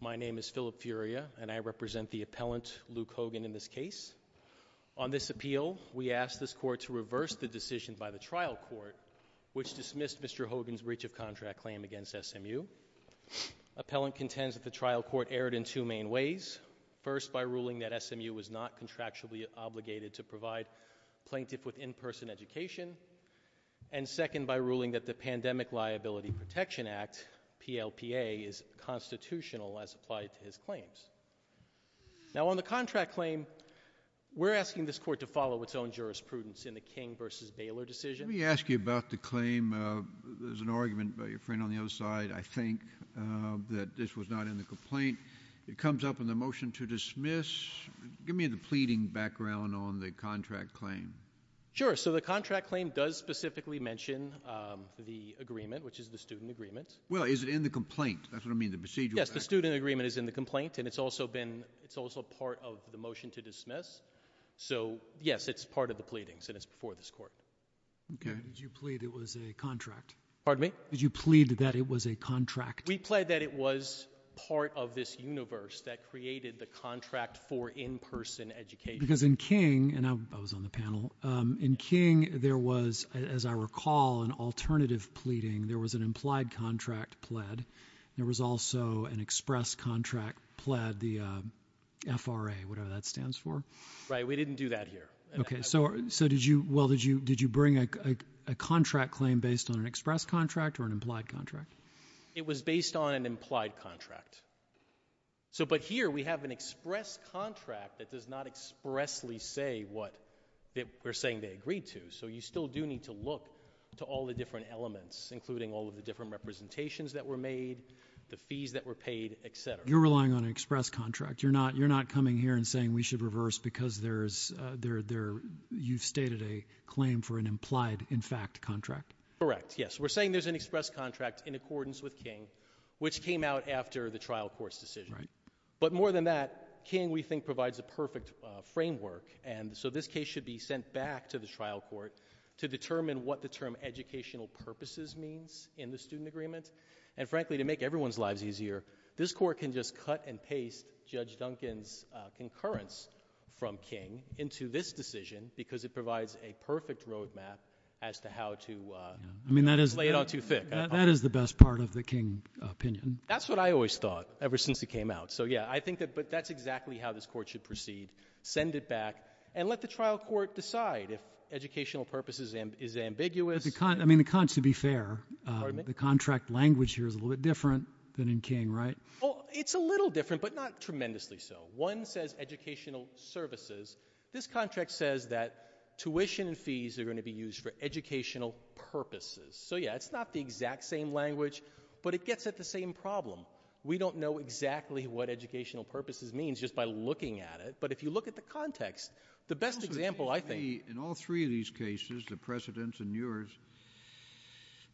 My name is Philip Furia and I represent the appellant Luke Hogan in this case. On this appeal we asked this court to reverse the decision by the trial court which dismissed Mr. Hogan's breach of contract claim against SMU. Appellant contends that the trial court erred in two main ways. First by ruling that SMU was not contractually obligated to provide plaintiff with in-person education and second by ruling that the Pandemic Liability Protection Act, PLPA, is constitutional as applied to his claims. Now on the contract claim we're asking this court to follow its own jurisprudence in the King v. Baylor decision. Let me ask you about the claim. There's an argument by your friend on the other side, I think, that this was not in the complaint. It comes up in the motion to dismiss. Give me the pleading background on the contract claim. Sure, so the contract claim does specifically mention the agreement, which is the student agreement. Well, is it in the complaint? That's what I mean, the procedural. Yes, the student agreement is in the complaint and it's also been, it's also part of the motion to dismiss. So yes, it's part of the pleadings and it's before this court. Okay. Did you plead it was a contract? Pardon me? Did you plead that it was a contract? We pled that it was part of this universe that created the contract for in-person education. Because in King, and I was on the panel, in King there was, as I recall, an alternative pleading. There was an implied contract pled. There was also an express contract pled, the FRA, whatever that stands for. Right. We didn't do that here. Okay. So, so did you, well, did you, did you bring a contract claim based on an express contract or an implied contract? It was based on an implied contract. So, but here we have an express contract that does not expressly say what that we're saying they agreed to. So you still do need to look to all the different elements, including all of the different representations that were made, the fees that were paid, et cetera. You're relying on an express contract. You're not, you're not coming here and saying we should reverse because there's a, there, there, you've stated a claim for an implied in fact contract. Correct. Yes. We're saying there's an express contract in accordance with King, which came out after the trial court's decision. Right. But more than that, King, we think provides a perfect framework. And so this case should be sent back to the trial court to determine what the term educational purposes means in the student agreement. And frankly, to make everyone's lives easier, this court can just cut and paste Judge Duncan's concurrence from King into this decision because it provides a perfect roadmap as to how to, uh, lay it on too thick. That is the best part of the King opinion. That's what I always thought ever since it came out. So yeah, I think that, but that's exactly how this court should proceed. Send it back and let the trial court decide if educational purposes is ambiguous. I mean, the cons to be fair, the contract language here is a little bit different than in King, right? Oh, it's a little different, but not tremendously. So one says educational services. This contract says that tuition and fees are going to be used for educational purposes. So yeah, it's not the exact same language, but it gets at the same problem. We don't know exactly what educational purposes means just by looking at it. But if you look at the context, the best example, I think in all three of these cases, the precedents and yours,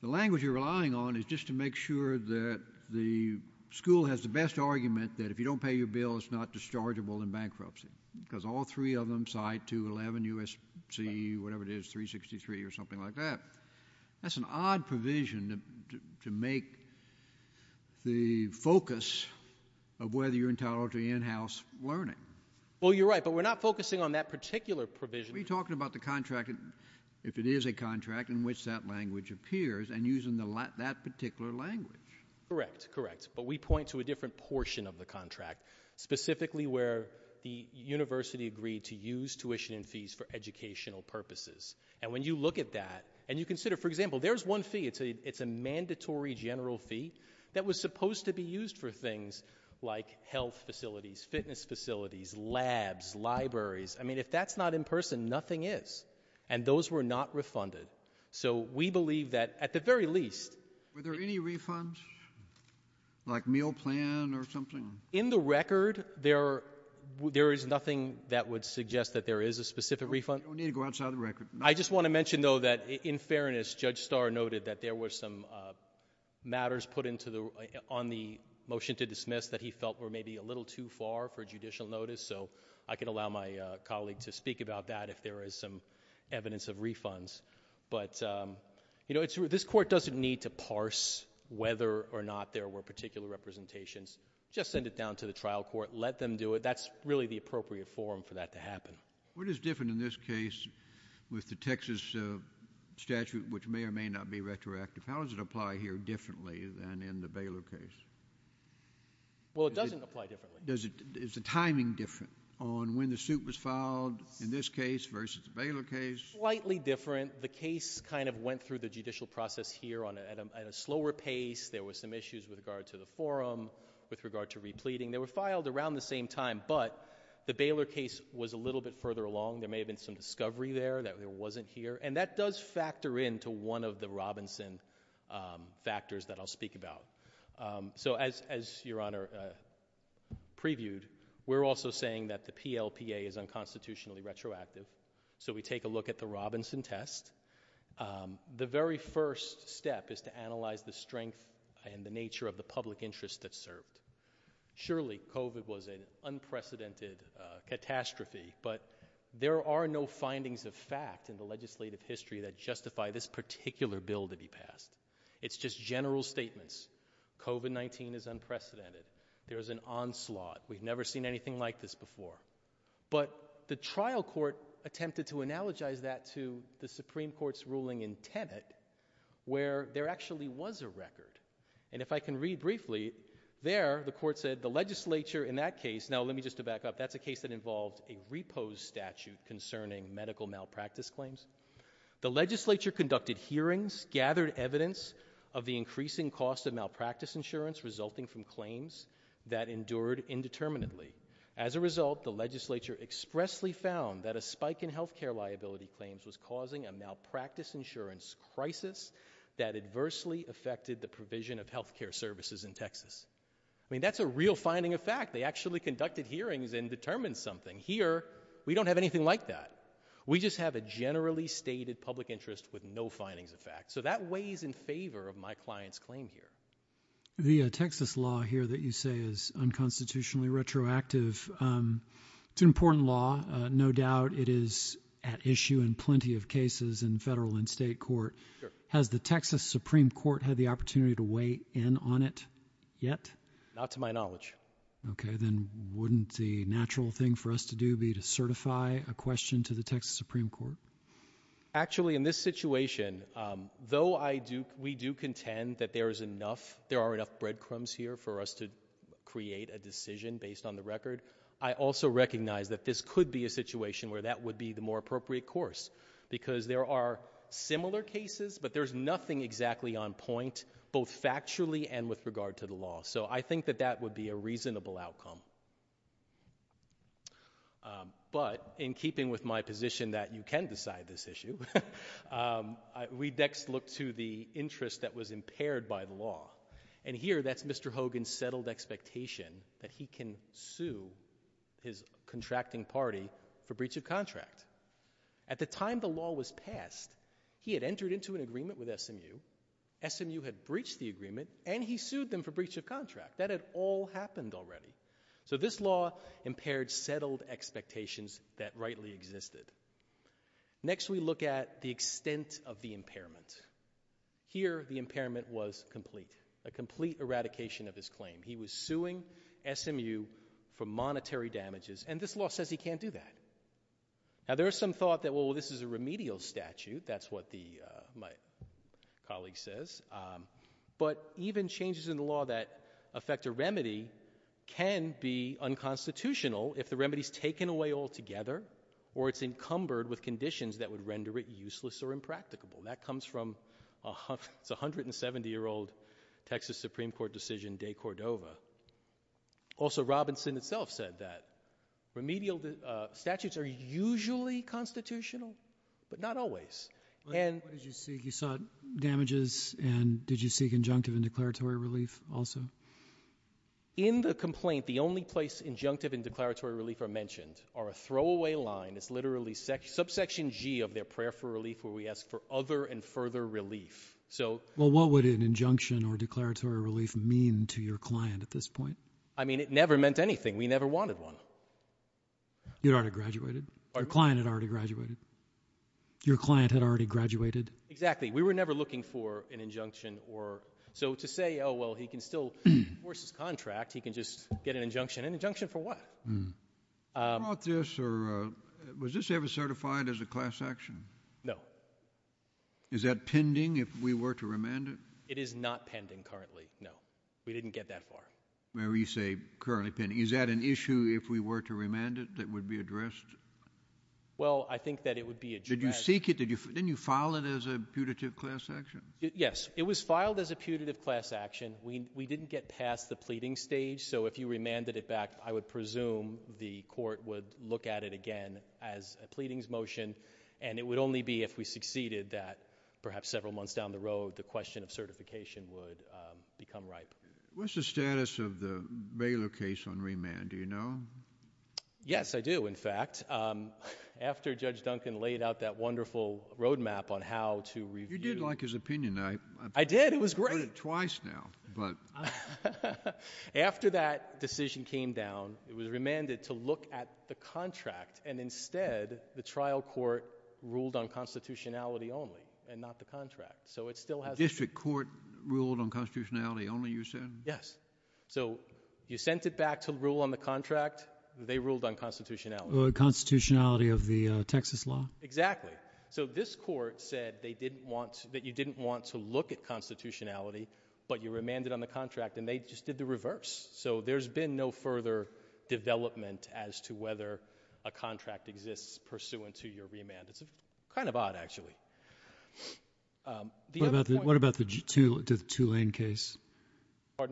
the language you're relying on is just to make sure that the school has the best argument that if you don't pay your bill, it's not dischargeable in bankruptcy because all three of them side to 11 U S C whatever it is, three 63 or something like that. That's an odd provision to make the focus of whether you're entitled to in-house learning. Well, you're right, but we're not focusing on that particular provision. We talked about the contract. If it is a contract in which that language appears and using the LA that particular language. Correct, correct. But we point to a different portion of the contract specifically where the university agreed to use tuition and fees for educational purposes. And when you look at that and you consider, for example, there's one fee, it's a, it's a mandatory general fee that was supposed to be used for things like health facilities, fitness facilities, labs, libraries. I mean, if that's not in person, nothing is, and those were not refunded. So we believe that at the very least, were there any refunds like meal plan or something in the record? There, there is nothing that would suggest that there is a specific refund. You don't need to go outside of the record. I just want to mention though, that in fairness, judge star noted that there were some, uh, matters put into the, on the motion to dismiss that he felt were maybe a little too far for judicial notice. So I can allow my colleague to speak about that if there is some evidence of refunds, but, um, you know, it's, this court doesn't need to parse whether or not there were particular representations, just send it down to the trial court, let them do it. That's really the appropriate forum for that to happen. What is different in this case with the Texas statute, which may or may not be retroactive? How does it apply here differently than in the Baylor case? Well, it doesn't apply differently. Does it, is the timing different on when the suit was filed in this case versus the Baylor case? Slightly different. The case kind of went through the judicial process here on, at a, at a slower pace. There was some issues with regard to the forum, with regard to repleting. They were filed around the same time, but the Baylor case was a little bit further along. There may have been some discovery there that there wasn't here. And that does factor into one of the Robinson, um, factors that I'll speak about. Um, so as, as your honor, uh, previewed, we're also saying that the PLPA is unconstitutionally retroactive. So we take a look at the Robinson test. Um, the very first step is to analyze the strength and the nature of the public interest that served. Surely COVID was an unprecedented, uh, catastrophe, but there are no findings of fact in the legislative history that justify this particular bill to be passed. It's just general statements. COVID-19 is unprecedented. There is an onslaught. We've never seen anything like this before, but the trial court attempted to analogize that to the Supreme Court's ruling in Tenet where there actually was a record. And if I can read briefly there, the court said the legislature in that case, now let me just to back up, that's a case that involved a repose statute concerning medical malpractice claims. The legislature conducted hearings, gathered evidence of the increasing cost of malpractice insurance resulting from claims that endured indeterminately. As a result, the legislature expressly found that a spike in healthcare liability claims was causing a malpractice insurance crisis that adversely affected the provision of healthcare services in Texas. I mean, that's a real finding of fact. They actually conducted hearings and determined something here. We don't have anything like that. We just have a generally stated public interest with no findings of fact. So that weighs in favor of my client's claim here. The Texas law here that you say is unconstitutionally retroactive. It's an important law. No doubt it is at issue in plenty of cases in federal and state court. Has the Texas Supreme Court had the opportunity to weigh in on it yet? Not to my knowledge. Okay. Then wouldn't the natural thing for us to do be to certify a question to the Texas Supreme Court? Actually, in this situation, though we do contend that there are enough breadcrumbs here for us to create a decision based on the record, I also recognize that this could be a situation where that would be the more appropriate course. Because there are similar cases, but there's nothing exactly on point, both factually and with regard to the law. So I think that that would be a reasonable outcome. But in keeping with my position that you can decide this issue, we next look to the interest that was impaired by the law. And here, that's Mr. Hogan's settled expectation that he can sue his contracting party for breach of contract. At the time the law was passed, he had entered into an agreement with SMU, SMU had breached the agreement, and he sued them for breach of contract. That had all happened already. So this law impaired settled expectations that rightly existed. Next, we look at the extent of the impairment. Here, the impairment was complete. A complete eradication of his claim. He was suing SMU for monetary damages, and this law says he can't do that. Now there is some thought that, well, this is a remedial statute, that's what my colleague says. But even changes in the law that affect a remedy can be unconstitutional if the remedy is taken away altogether, or it's encumbered with conditions that would render it useless or impracticable. That comes from a 170-year-old Texas Supreme Court decision, de Cordova. Also, Robinson itself said that remedial statutes are usually constitutional, but not always. What did you seek? You sought damages, and did you seek injunctive and declaratory relief also? In the complaint, the only place injunctive and declaratory relief are mentioned are a throwaway line. It's literally subsection G of their prayer for relief, where we ask for other and further relief. Well, what would an injunction or declaratory relief mean to your client at this point? I mean, it never meant anything. We never wanted one. Your client had graduated. Your client had already graduated? Exactly. We were never looking for an injunction or... So to say, oh, well, he can still enforce his contract, he can just get an injunction. An injunction for what? Was this ever certified as a class action? No. Is that pending if we were to remand it? It is not pending currently, no. We didn't get that far. Whenever you say we were to remand it, that would be addressed? Well, I think that it would be addressed. Did you seek it? Didn't you file it as a putative class action? Yes. It was filed as a putative class action. We didn't get past the pleading stage, so if you remanded it back, I would presume the court would look at it again as a pleadings motion, and it would only be if we succeeded that perhaps several months down the road, the question of certification would become ripe. What's the status of the Baylor case on remand? Do you know? Yes, I do, in fact. After Judge Duncan laid out that wonderful roadmap on how to review... You did like his opinion. I did. It was great. I've heard it twice now, but... After that decision came down, it was remanded to look at the contract, and instead, the trial court ruled on constitutionality only and not the contract, so it still has... The district court ruled on constitutionality. Yes. You sent it back to rule on the contract. They ruled on constitutionality. Constitutionality of the Texas law? Exactly. This court said that you didn't want to look at constitutionality, but you remanded on the contract, and they just did the reverse, so there's been no further development as to whether a contract exists pursuant to your remand. It's kind of odd, actually. What about the Tulane case?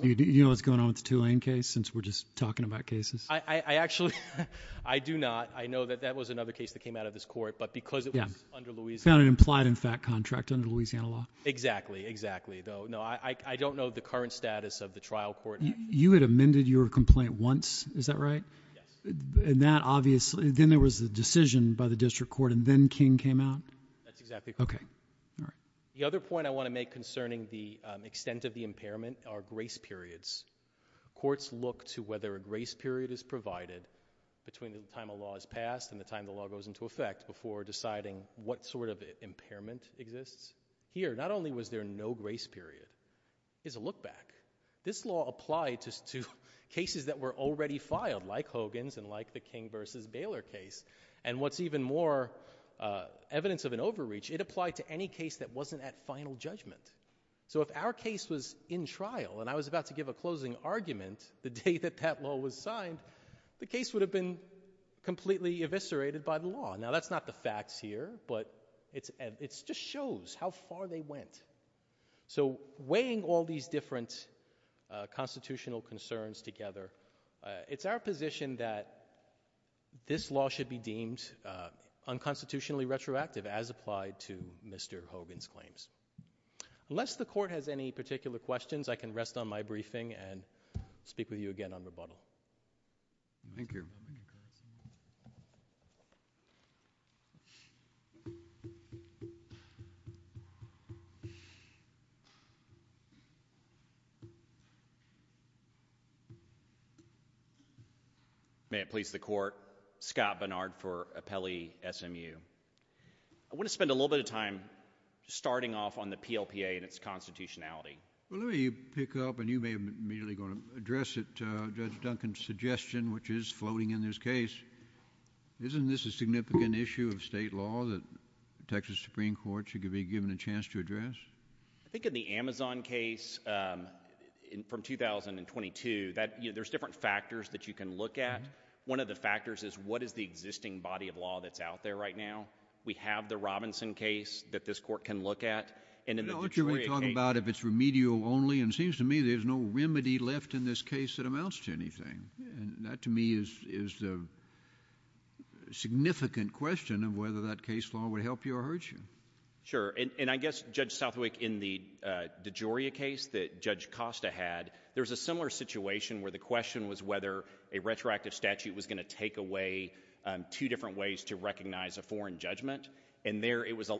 You know what's going on with the Tulane case, since we're just talking about cases? I do not. I know that that was another case that came out of this court, but because it was under Louisiana... It implied, in fact, contract under Louisiana law? Exactly. Exactly. No, I don't know the current status of the trial court. You had amended your complaint once. Is that right? Yes. Then there was a decision by the district court, and then King came out? That's exactly correct. Okay. All right. The other point I want to make concerning the extent of the impairment are grace periods. Courts look to whether a grace period is provided between the time a law is passed and the time the law goes into effect before deciding what sort of impairment exists. Here, not only was there no grace period, there's a look back. This law applied to cases that were already filed, like Hogan's and like the King versus Baylor case. What's even more evidence of an overreach, it applied to any case that wasn't at final judgment. If our case was in trial and I was about to give a closing argument the day that that law was signed, the case would have been completely eviscerated by the law. Now, that's not the facts here, but it just shows how far they went. Weighing all these different constitutional concerns together, it's our Mr. Hogan's claims. Unless the court has any particular questions, I can rest on my briefing and speak with you again on rebuttal. Thank you. May it please the court. Scott Bernard for Appellee SMU. I want to spend a little bit of time starting off on the PLPA and its constitutionality. Well, let me pick up, you may immediately going to address it, Judge Duncan's suggestion, which is floating in this case. Isn't this a significant issue of state law that Texas Supreme Court should be given a chance to address? I think in the Amazon case from 2022, there's different factors that you can look at. One of the factors is what is the existing body of law that's out there right now. We have the Robinson case that this court can look at. In the DeGioia case. You know what you're talking about if it's remedial only, and it seems to me there's no remedy left in this case that amounts to anything. And that to me is the significant question of whether that case law would help you or hurt you. Sure. And I guess, Judge Southwick, in the DeGioia case that Judge Costa had, there was a similar situation where the question was whether a retroactive statute was going to take away two different ways to recognize a foreign judgment. And there it was,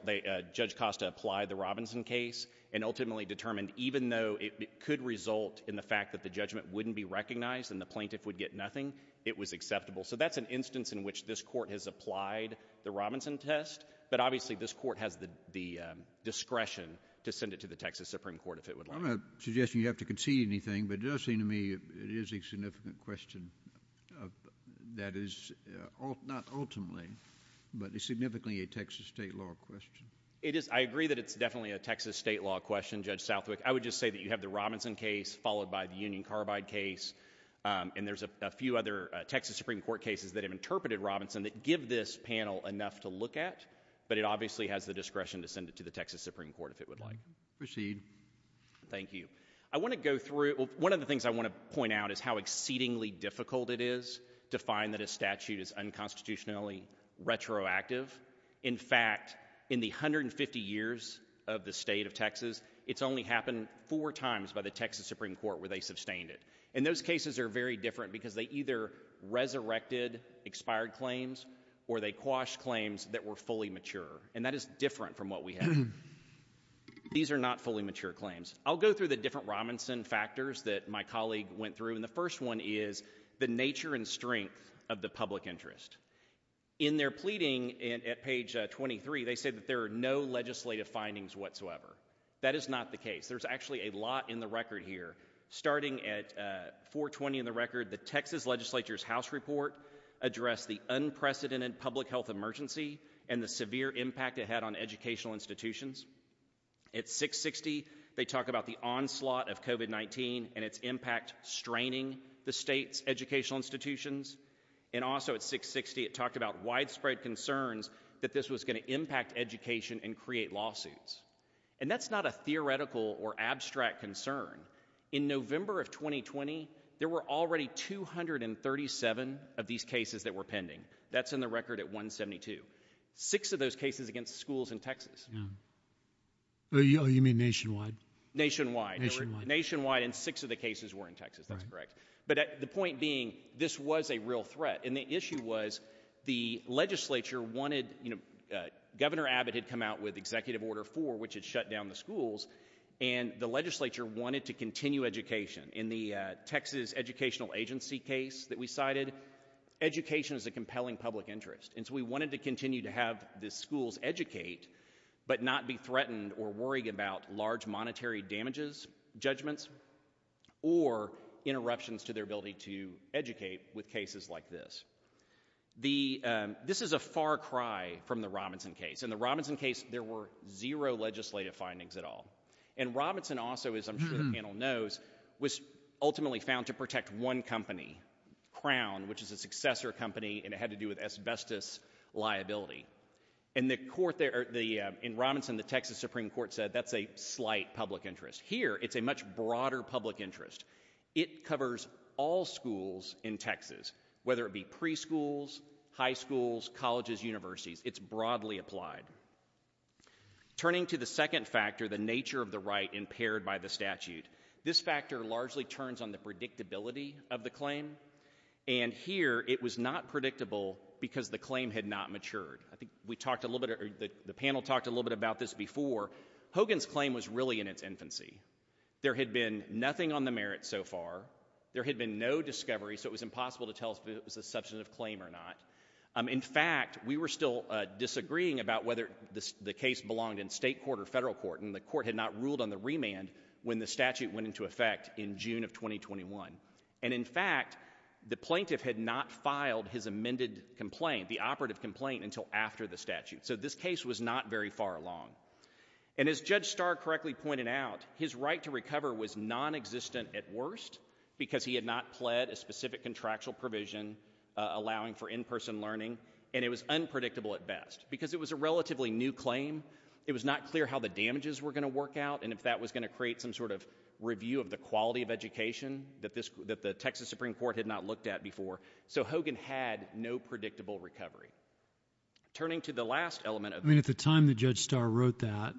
Judge Costa applied the Robinson case and ultimately determined even though it could result in the fact that the judgment wouldn't be recognized and the plaintiff would get nothing, it was acceptable. So that's an instance in which this court has applied the Robinson test. But obviously, this court has the discretion to send it to the Texas Supreme Court if it would like. I'm not suggesting you have to concede anything, but it does seem to me it is a significant question that is not ultimately, but it's significantly a Texas state law question. It is. I agree that it's definitely a Texas state law question, Judge Southwick. I would just say that you have the Robinson case followed by the Union Carbide case, and there's a few other Texas Supreme Court cases that have interpreted Robinson that give this panel enough to look at, but it obviously has the discretion to send it to the Texas Supreme Court if it would like. Proceed. Thank you. I want to go through, well, one of the things I want to point out is how exceedingly difficult it is to find that a statute is unconstitutionally retroactive. In fact, in the 150 years of the state of Texas, it's only happened four times by the Texas Supreme Court where they sustained it. And those cases are very different because they either resurrected expired claims or they quashed claims that were fully mature, and that is different from what we have. These are not fully mature claims. I'll go through the different Robinson factors that my colleague went through, and the first one is the nature and strength of the public interest. In their pleading at page 23, they said that there are no legislative findings whatsoever. That is not the case. There's actually a lot in the record here. Starting at 420 in the record, the Texas legislature's house report addressed the educational institutions. At 660, they talk about the onslaught of COVID-19 and its impact straining the state's educational institutions. And also at 660, it talked about widespread concerns that this was going to impact education and create lawsuits. And that's not a theoretical or abstract concern. In November of 2020, there were already 237 of these cases that were pending. That's in the record at 172. Six of those cases against schools in Texas. You mean nationwide? Nationwide. Nationwide. And six of the cases were in Texas. That's correct. But the point being, this was a real threat. And the issue was the legislature wanted, you know, Governor Abbott had come out with Executive Order 4, which had shut down the schools, and the legislature wanted to continue education. In the Texas Educational Agency case that we cited, education is a compelling public interest. And so we wanted to continue to have the schools educate, but not be threatened or worried about large monetary damages, judgments, or interruptions to their ability to educate with cases like this. This is a far cry from the Robinson case. In the Robinson case, there were zero legislative findings at all. And Robinson also, as I'm sure the panel knows, was ultimately found to protect one company, Crown, which is a successor company, and it had to do with asbestos liability. In the court there, in Robinson, the Texas Supreme Court said that's a slight public interest. Here, it's a much broader public interest. It covers all schools in Texas, whether it be preschools, high schools, colleges, universities, it's broadly applied. Turning to the second factor, the nature of the right impaired by the statute, this factor largely turns on the predictability of the claim. And here, it was not predictable because the claim had not matured. I think we talked a little bit, or the panel talked a little bit about this before. Hogan's claim was really in its infancy. There had been nothing on the merit so far. There had been no discovery, so it was impossible to tell if it was a substantive claim or not. In fact, we were still disagreeing about whether the case belonged in state court or federal court, and the court had not ruled on the remand when the statute went into effect in June of 2021. And in fact, the plaintiff had not filed his amended complaint, the operative complaint, until after the statute. So this case was not very far along. And as Judge Starr correctly pointed out, his right to recover was non-existent at worst because he had not pled a specific contractual provision allowing for in-person learning, and it was unpredictable at best. Because it was a relatively new claim, it was not clear how the damages were going to work out and if that was going to create some sort of review of the quality of education that the Texas Supreme Court had not looked at before. So Hogan had no predictable recovery. Turning to the last element of this. I mean, at the time that Judge Starr wrote that,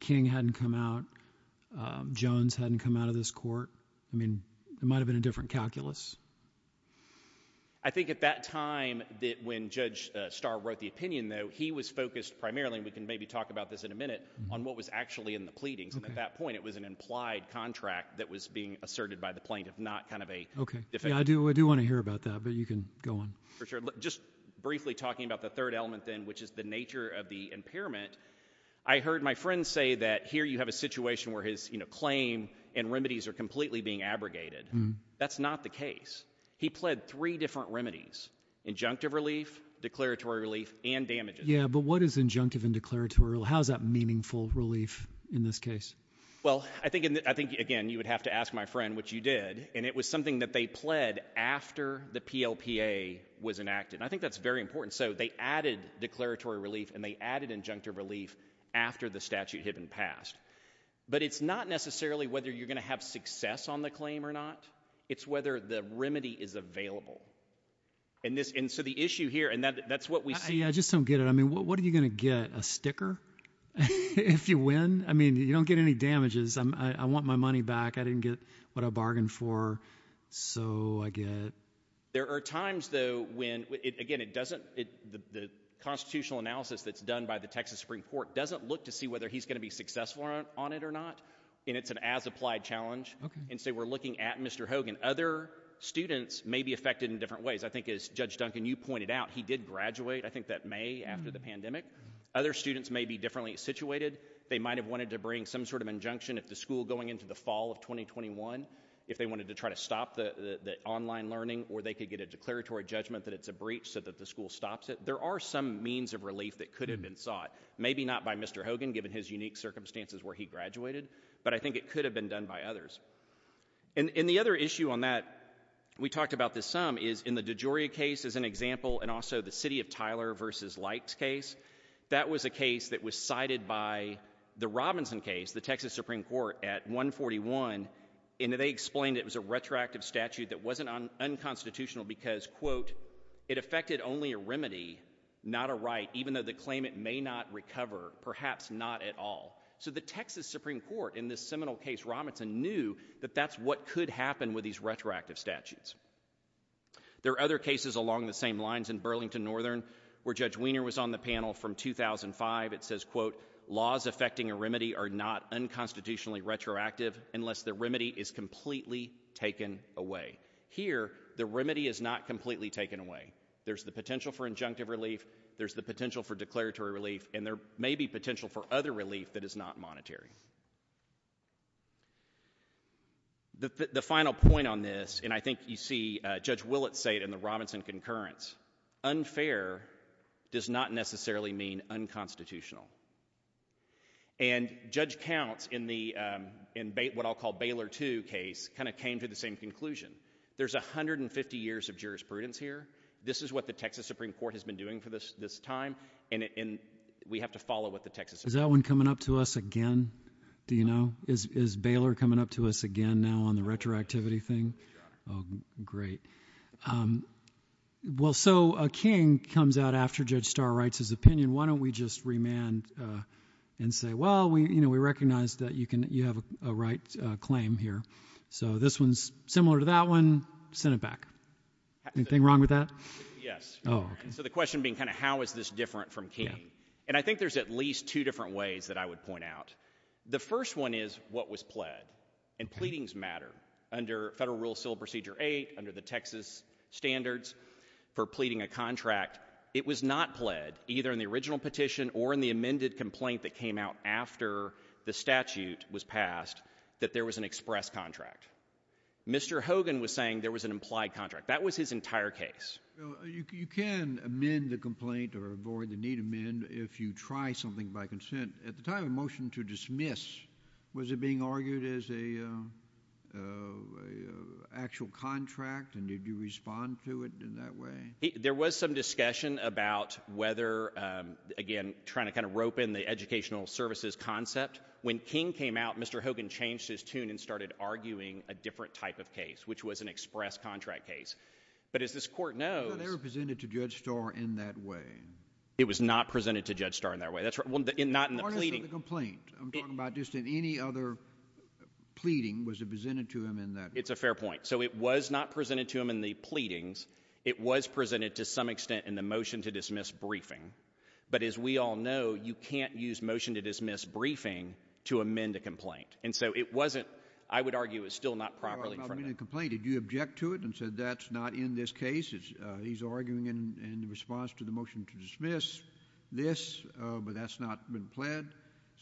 King hadn't come out, Jones hadn't come out of this court. I mean, it might have been a different calculus. I think at that time that when Judge Starr wrote the opinion, though, he was focused primarily, and we can maybe talk about this in a minute, on what was actually in the pleadings. And at that point, it was an implied contract that was being asserted by the plaintiff, not kind of a defense. Okay. Yeah, I do want to hear about that, but you can go on. For sure. Just briefly talking about the third element, then, which is the nature of the impairment. I heard my friend say that here you have a situation where his claim and remedies are completely being abrogated. That's not the case. He pled three different remedies. Injunctive relief, declaratory relief, and damages. Yeah, but what is injunctive and declaratory relief? How is that meaningful relief in this case? Well, I think, again, you would have to ask my friend, which you did, and it was something that they pled after the PLPA was enacted. I think that's very important. So they added declaratory relief and they added pass. But it's not necessarily whether you're going to have success on the claim or not. It's whether the remedy is available. And so the issue here, and that's what we see. Yeah, I just don't get it. I mean, what are you going to get, a sticker if you win? I mean, you don't get any damages. I want my money back. I didn't get what I bargained for, so I get. There are times, though, when, again, it doesn't, the constitutional analysis that's done by the legislature, whether he's going to be successful on it or not, and it's an as-applied challenge. And so we're looking at Mr. Hogan. Other students may be affected in different ways. I think, as Judge Duncan, you pointed out, he did graduate, I think, that May after the pandemic. Other students may be differently situated. They might have wanted to bring some sort of injunction if the school going into the fall of 2021, if they wanted to try to stop the online learning or they could get a declaratory judgment that it's a breach so that the school stops it. There are some means of relief that could have been sought. Maybe not by Mr. Hogan, given his unique circumstances where he graduated, but I think it could have been done by others. And the other issue on that, we talked about this some, is in the DeGioia case, as an example, and also the City of Tyler v. Light case, that was a case that was cited by the Robinson case, the Texas Supreme Court, at 141, and they explained it was a retroactive statute that wasn't unconstitutional because, quote, it affected only a remedy, not a right, even though the claimant may not recover, perhaps not at all. So the Texas Supreme Court, in this seminal case, Robinson knew that that's what could happen with these retroactive statutes. There are other cases along the same lines in Burlington Northern where Judge Weiner was on the panel from 2005. It says, quote, laws affecting a remedy are not unconstitutionally retroactive unless the remedy is completely taken away. Here, the remedy is not completely taken away. There's the potential for injunctive relief, there's the potential for declaratory relief, and there may be potential for other relief that is not monetary. The final point on this, and I think you see Judge Willits say it in the Robinson concurrence, unfair does not necessarily mean unconstitutional. And Judge Counts, in what I'll call Baylor 2 case, kind of came to the same conclusion. There's 150 years of jurisprudence here. This is what the Texas Supreme Court has been doing for this time, and we have to follow what the Texas Supreme Court has been doing. Is that one coming up to us again? Do you know? Is Baylor coming up to us again now on the retroactivity thing? Oh, great. Well, so a king comes out after Judge Starr writes his opinion. Why don't we just remand and say, well, we recognize that you have a right claim here. So this one's similar to that one. Send it back. Anything wrong with that? Yes. So the question being kind of how is this different from King? And I think there's at least two different ways that I would point out. The first one is what was pled, and pleadings matter. Under Federal Rule of Civil Procedure 8, under the Texas standards for pleading a contract, it was not pled, either in the original petition or in the amended complaint that came out after the statute was passed that there was an express contract. Mr. Hogan was saying there was an implied contract. That was his entire case. You can amend the complaint or avoid the need to amend if you try something by consent. At the time of the motion to dismiss, was it being argued as a actual contract, and did you respond to it in that way? There was some discussion about whether, again, trying to kind of rope in the educational services concept. When King came out, Mr. Hogan changed his tune and started arguing a different type of case, which was an express contract case. But as this Court knows— It was not ever presented to Judge Starr in that way. It was not presented to Judge Starr in that way. That's right. Well, not in the pleading— The court is in the complaint. I'm talking about just in any other pleading, was it presented to him in that way? It's a fair point. So it was not presented to him in the pleadings. It was presented to some extent in the motion to dismiss briefing. But as we all know, you can't use motion to dismiss briefing to amend a complaint. And so it wasn't— I would argue it was still not properly— In the complaint, did you object to it and said that's not in this case? He's arguing in response to the motion to dismiss this, but that's not been pled.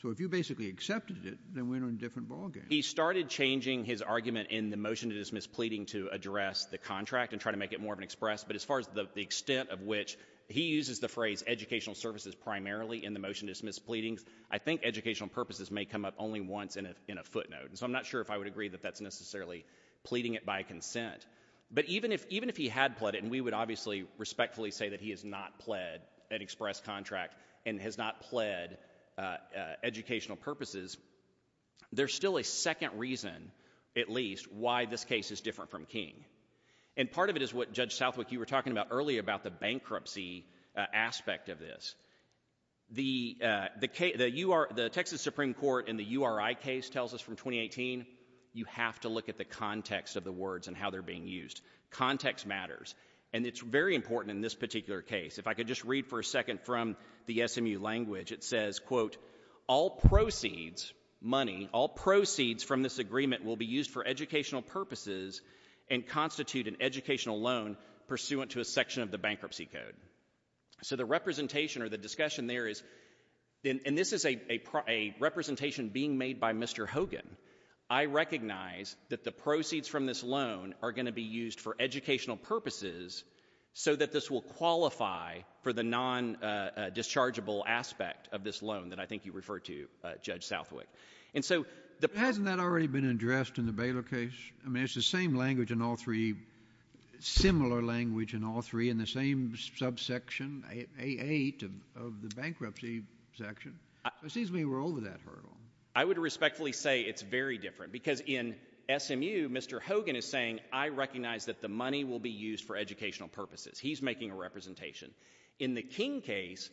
So if you basically accepted it, then we're in a different ballgame. He started changing his argument in the motion to dismiss pleading to address the contract and try to make it more of an express. But as far as the extent of which he uses the phrase educational services primarily in the motion to dismiss pleadings, I think educational purposes may come up only once in a footnote. And so I'm not sure if I would agree that that's necessarily pleading it by consent. But even if he had pled it, and we would obviously respectfully say that he has not pled an express contract and has not pled educational purposes, there's still a second reason, at least, why this case is different from King. And part of it is what Judge Southwick, you were talking about earlier about the bankruptcy aspect of this. The Texas Supreme Court in the URI case tells us from 2018, you have to look at the context of the words and how they're being used. Context matters. And it's very important in this particular case. If I could just read for a second from the SMU language, it says, quote, all proceeds, money, all proceeds from this agreement will be used for educational purposes and constitute an educational loan pursuant to a section of the bankruptcy code. So the representation or the discussion there is, and this is a representation being made by Mr. Hogan. I recognize that the proceeds from this loan are going to be used for a dischargeable aspect of this loan that I think you refer to, uh, Judge Southwick. And so the- Hasn't that already been addressed in the Baylor case? I mean, it's the same language in all three, similar language in all three, in the same subsection, A8 of the bankruptcy section. It seems we were over that hurdle. I would respectfully say it's very different because in SMU, Mr. Hogan is saying, I recognize that the money will be used for educational purposes. He's making a representation. In the King case,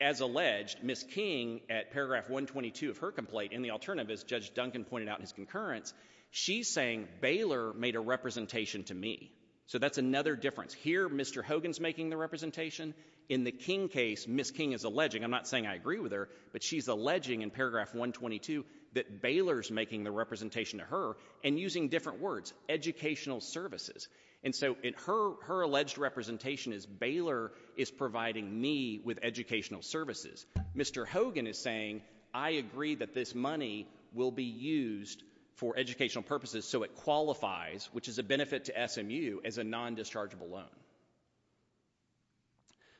as alleged, Miss King at paragraph 122 of her complaint in the alternative, as Judge Duncan pointed out in his concurrence, she's saying Baylor made a representation to me. So that's another difference. Here, Mr. Hogan's making the representation. In the King case, Miss King is alleging, I'm not saying I agree with her, but she's alleging in paragraph 122 that Baylor's making the representation to her and using different words, educational services. And so in her, her alleged representation is Baylor is providing me with educational services. Mr. Hogan is saying, I agree that this money will be used for educational purposes. So it qualifies, which is a benefit to SMU as a non-dischargeable loan.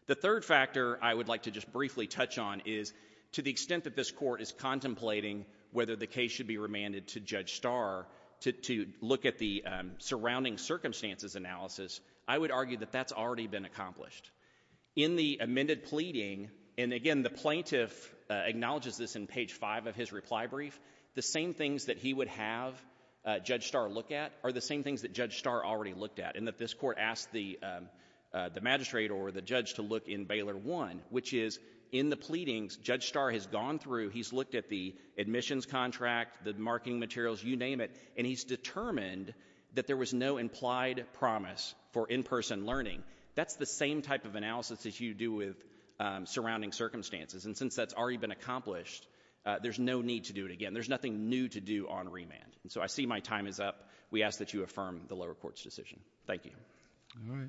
The third factor I would like to just briefly touch on is to the extent that this court is contemplating whether the case should be remanded to Judge Starr to look at the surrounding circumstances analysis, I would argue that that's already been accomplished. In the amended pleading, and again, the plaintiff acknowledges this in page five of his reply brief, the same things that he would have Judge Starr look at are the same things that Judge Starr already looked at and that this court asked the magistrate or the judge to look in Baylor one, which is in the pleadings Judge Starr has gone through, he's looked at the admissions contract, the marketing materials, you name it, and he's determined that there was no implied promise for in-person learning. That's the same type of analysis that you do with surrounding circumstances. And since that's already been accomplished, there's no need to do it again. There's nothing new to do on remand. And so I see my time is up. We ask that you affirm the lower court's decision. Thank you. All right.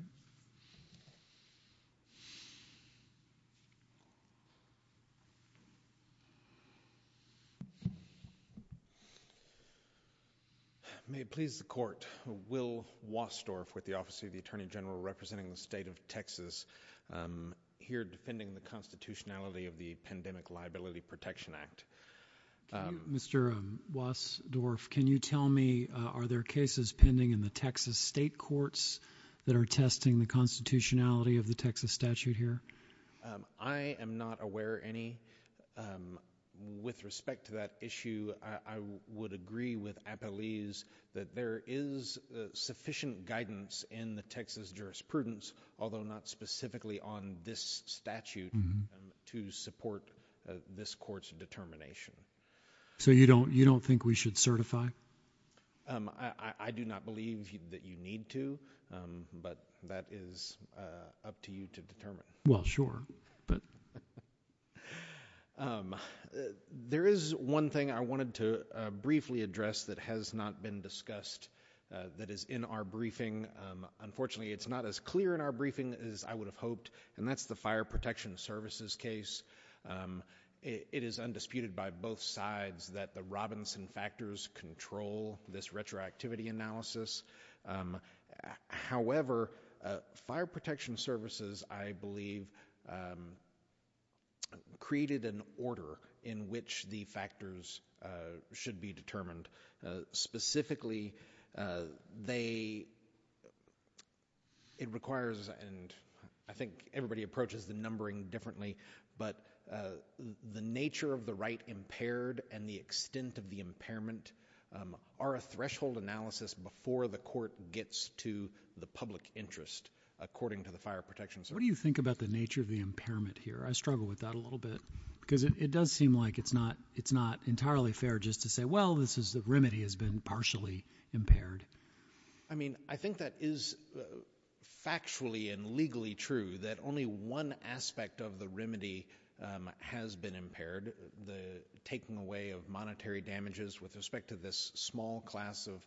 May it please the court. Will Wassdorf with the Office of the Attorney General, representing the state of Texas, here defending the constitutionality of the Pandemic Liability Protection Act. Mr. Wassdorf, can you tell me, are there cases pending in the Texas state courts that are testing the constitutionality of the Texas statute here? I am not aware of any. With respect to that issue, I would agree with Apeliz that there is sufficient guidance in the Texas jurisprudence, although not specifically on this statute, to support this court's determination. So you don't think we should certify? I do not believe that you need to, but that is up to you to determine. Well, sure. There is one thing I wanted to briefly address that has not been discussed, that is in our briefing. Unfortunately, it's not as clear in our briefing as I would have hoped, and that's the Fire Protection Services case. It is undisputed by both sides that the Robinson factors control this retroactivity analysis. However, Fire Protection Services, I believe, created an order in which the factors should be determined. Specifically, they, it requires, and I think everybody approaches the numbering differently, but the nature of the right impaired and the extent of the impairment are a threshold analysis before the court gets to the public interest, according to the Fire Protection Service. What do you think about the nature of the impairment here? I struggle with that a little bit, because it does seem like it's not entirely fair just to say, well, this is the remedy has been partially impaired. I mean, I think that is factually and legally true that only one aspect of the remedy has been impaired, the taking away of monetary damages with respect to this small class of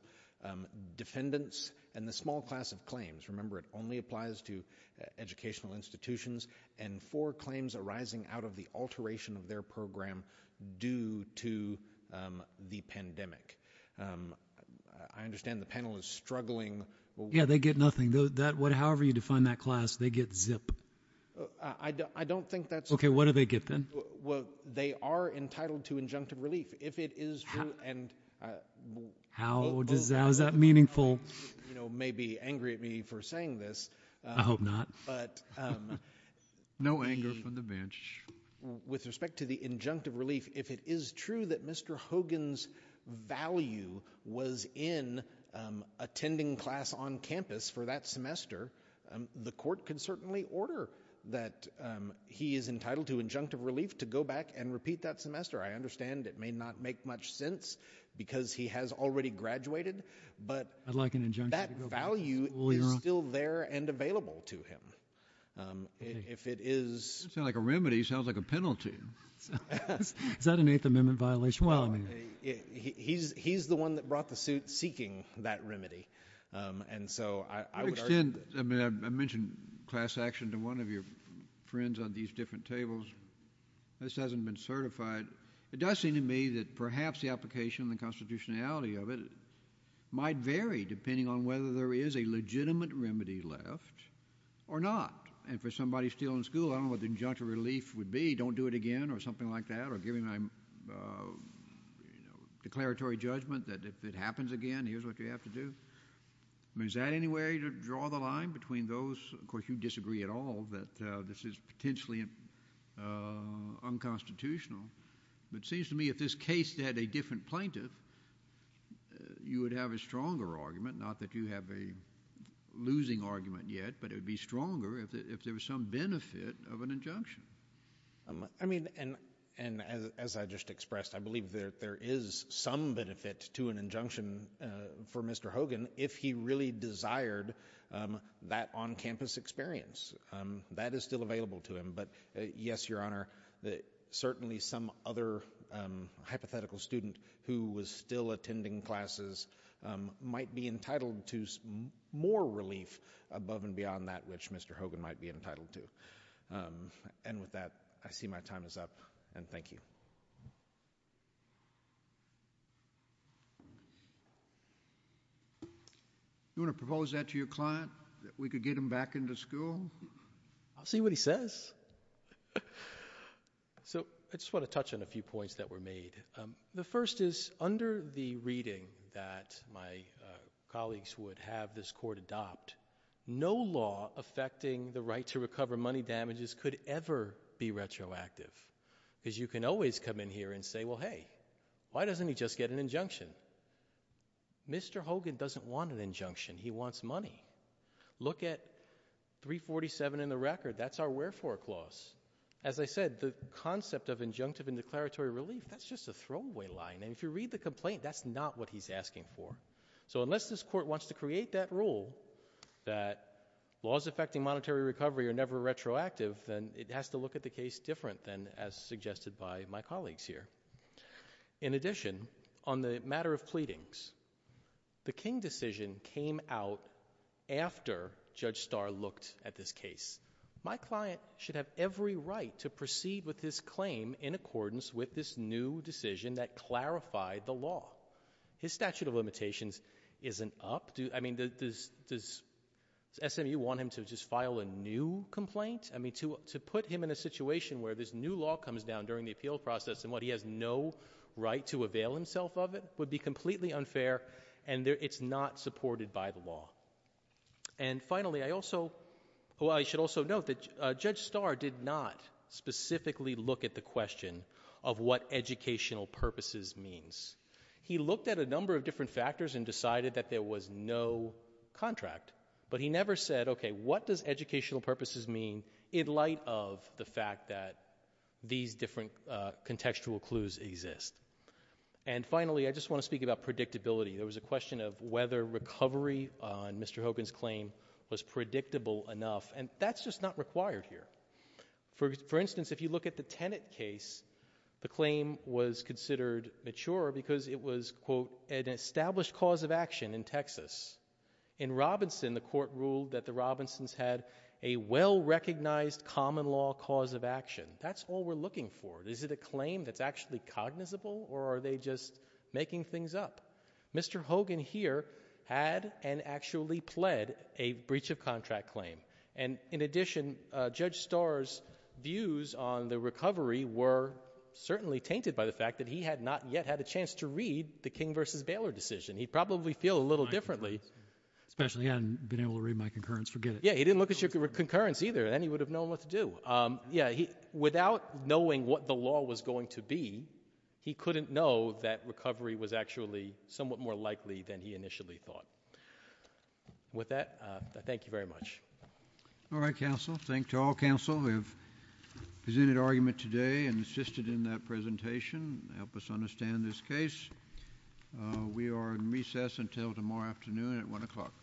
defendants and the small class of claims. Remember, it only applies to educational institutions and for claims arising out of the alteration of their program due to the pandemic. Um, I understand the panel is struggling. Yeah, they get nothing though. That would, however you define that class, they get zip. I don't, I don't think that's okay. What do they get then? Well, they are entitled to injunctive relief if it is true. And how does, how is that meaningful? You know, maybe angry at me for saying this. I hope not. But, um, no anger from the bench with respect to the injunctive relief. If it is true that Mr. Hogan's value was in, um, attending class on campus for that semester, um, the court can certainly order that, um, he is entitled to injunctive relief to go back and repeat that semester. I understand it may not make much sense because he has already graduated, but I'd like an injunction that value is still there and available to him. Um, if it is like a remedy, it sounds like a penalty. Is that an eighth amendment violation? Well, he's, he's the one that brought the suit seeking that remedy. Um, and so I would extend, I mean, I mentioned class action to one of your friends on these different tables. This hasn't been certified. It does seem to me that perhaps the application and the constitutionality of it might vary depending on whether there is a legitimate remedy left. Or not. And for somebody still in school, I don't know what the injunctive relief would be, don't do it again, or something like that, or give him a, uh, you know, declaratory judgment that if it happens again, here's what you have to do. I mean, is that any way to draw the line between those? Of course, you disagree at all that, uh, this is potentially, uh, unconstitutional. But it seems to me if this case had a different plaintiff, uh, you would have a stronger argument. Not that you have a losing argument yet, but it would be stronger if, if there was some benefit of an injunction. I mean, and, and as, as I just expressed, I believe that there is some benefit to an injunction, uh, for Mr. Hogan if he really desired, um, that on-campus experience. Um, that is still available to him. But, uh, yes, Your Honor, that certainly some other, um, hypothetical student who was still attending classes, um, might be entitled to more relief above and beyond that which Mr. Hogan might be entitled to. Um, and with that, I see my time is up, and thank you. You want to propose that to your client, that we could get him back into school? I'll see what he says. So, I just want to touch on a few points that were made. Um, the first is under the reading that my, uh, colleagues would have this court adopt, no law affecting the right to recover money damages could ever be retroactive. Because you can always come in here and say, well, hey, why doesn't he just get an injunction? Mr. Hogan doesn't want an injunction. He wants money. Look at 347 in the record. That's our wherefore clause. As I said, the concept of injunctive and declaratory relief, that's just a throwaway line. And if you read the complaint, that's not what he's asking for. So, unless this court wants to create that rule that laws affecting monetary recovery are never retroactive, then it has to look at the case different than as suggested by my colleagues here. In addition, on the matter of pleadings, the King decision came out after Judge Starr looked at this case. My client should have every right to proceed with this claim in accordance with this new decision that clarified the law. His statute of limitations isn't up. Do, I mean, does, does SMU want him to just file a new complaint? I mean, to, to put him in a situation where this new law comes down during the appeal process and what he has no right to avail himself of it would be completely unfair and it's not supported by the law. And finally, I also, well, I should also note that Judge Starr did not specifically look at the question of what educational purposes means. He looked at a number of different factors and decided that there was no contract, but he never said, okay, what does educational purposes mean in light of the fact that these different contextual clues exist? And finally, I just want to speak about predictability. There was a question of whether recovery on Mr. Hogan's claim was predictable enough, and that's just not required here. For instance, if you look at the Tenet case, the claim was considered mature because it was, quote, an established cause of action in Texas. In Robinson, the court ruled that Robinson's had a well-recognized common law cause of action. That's all we're looking for. Is it a claim that's actually cognizable or are they just making things up? Mr. Hogan here had and actually pled a breach of contract claim. And in addition, Judge Starr's views on the recovery were certainly tainted by the fact that he had not yet had a chance to read the King v. Baylor decision. He'd feel a little differently. He didn't look at your concurrence either. Then he would have known what to do. Without knowing what the law was going to be, he couldn't know that recovery was actually somewhat more likely than he initially thought. With that, I thank you very much. All right, counsel. Thank you to all counsel who have presented argument today and assisted in that until tomorrow afternoon at one o'clock.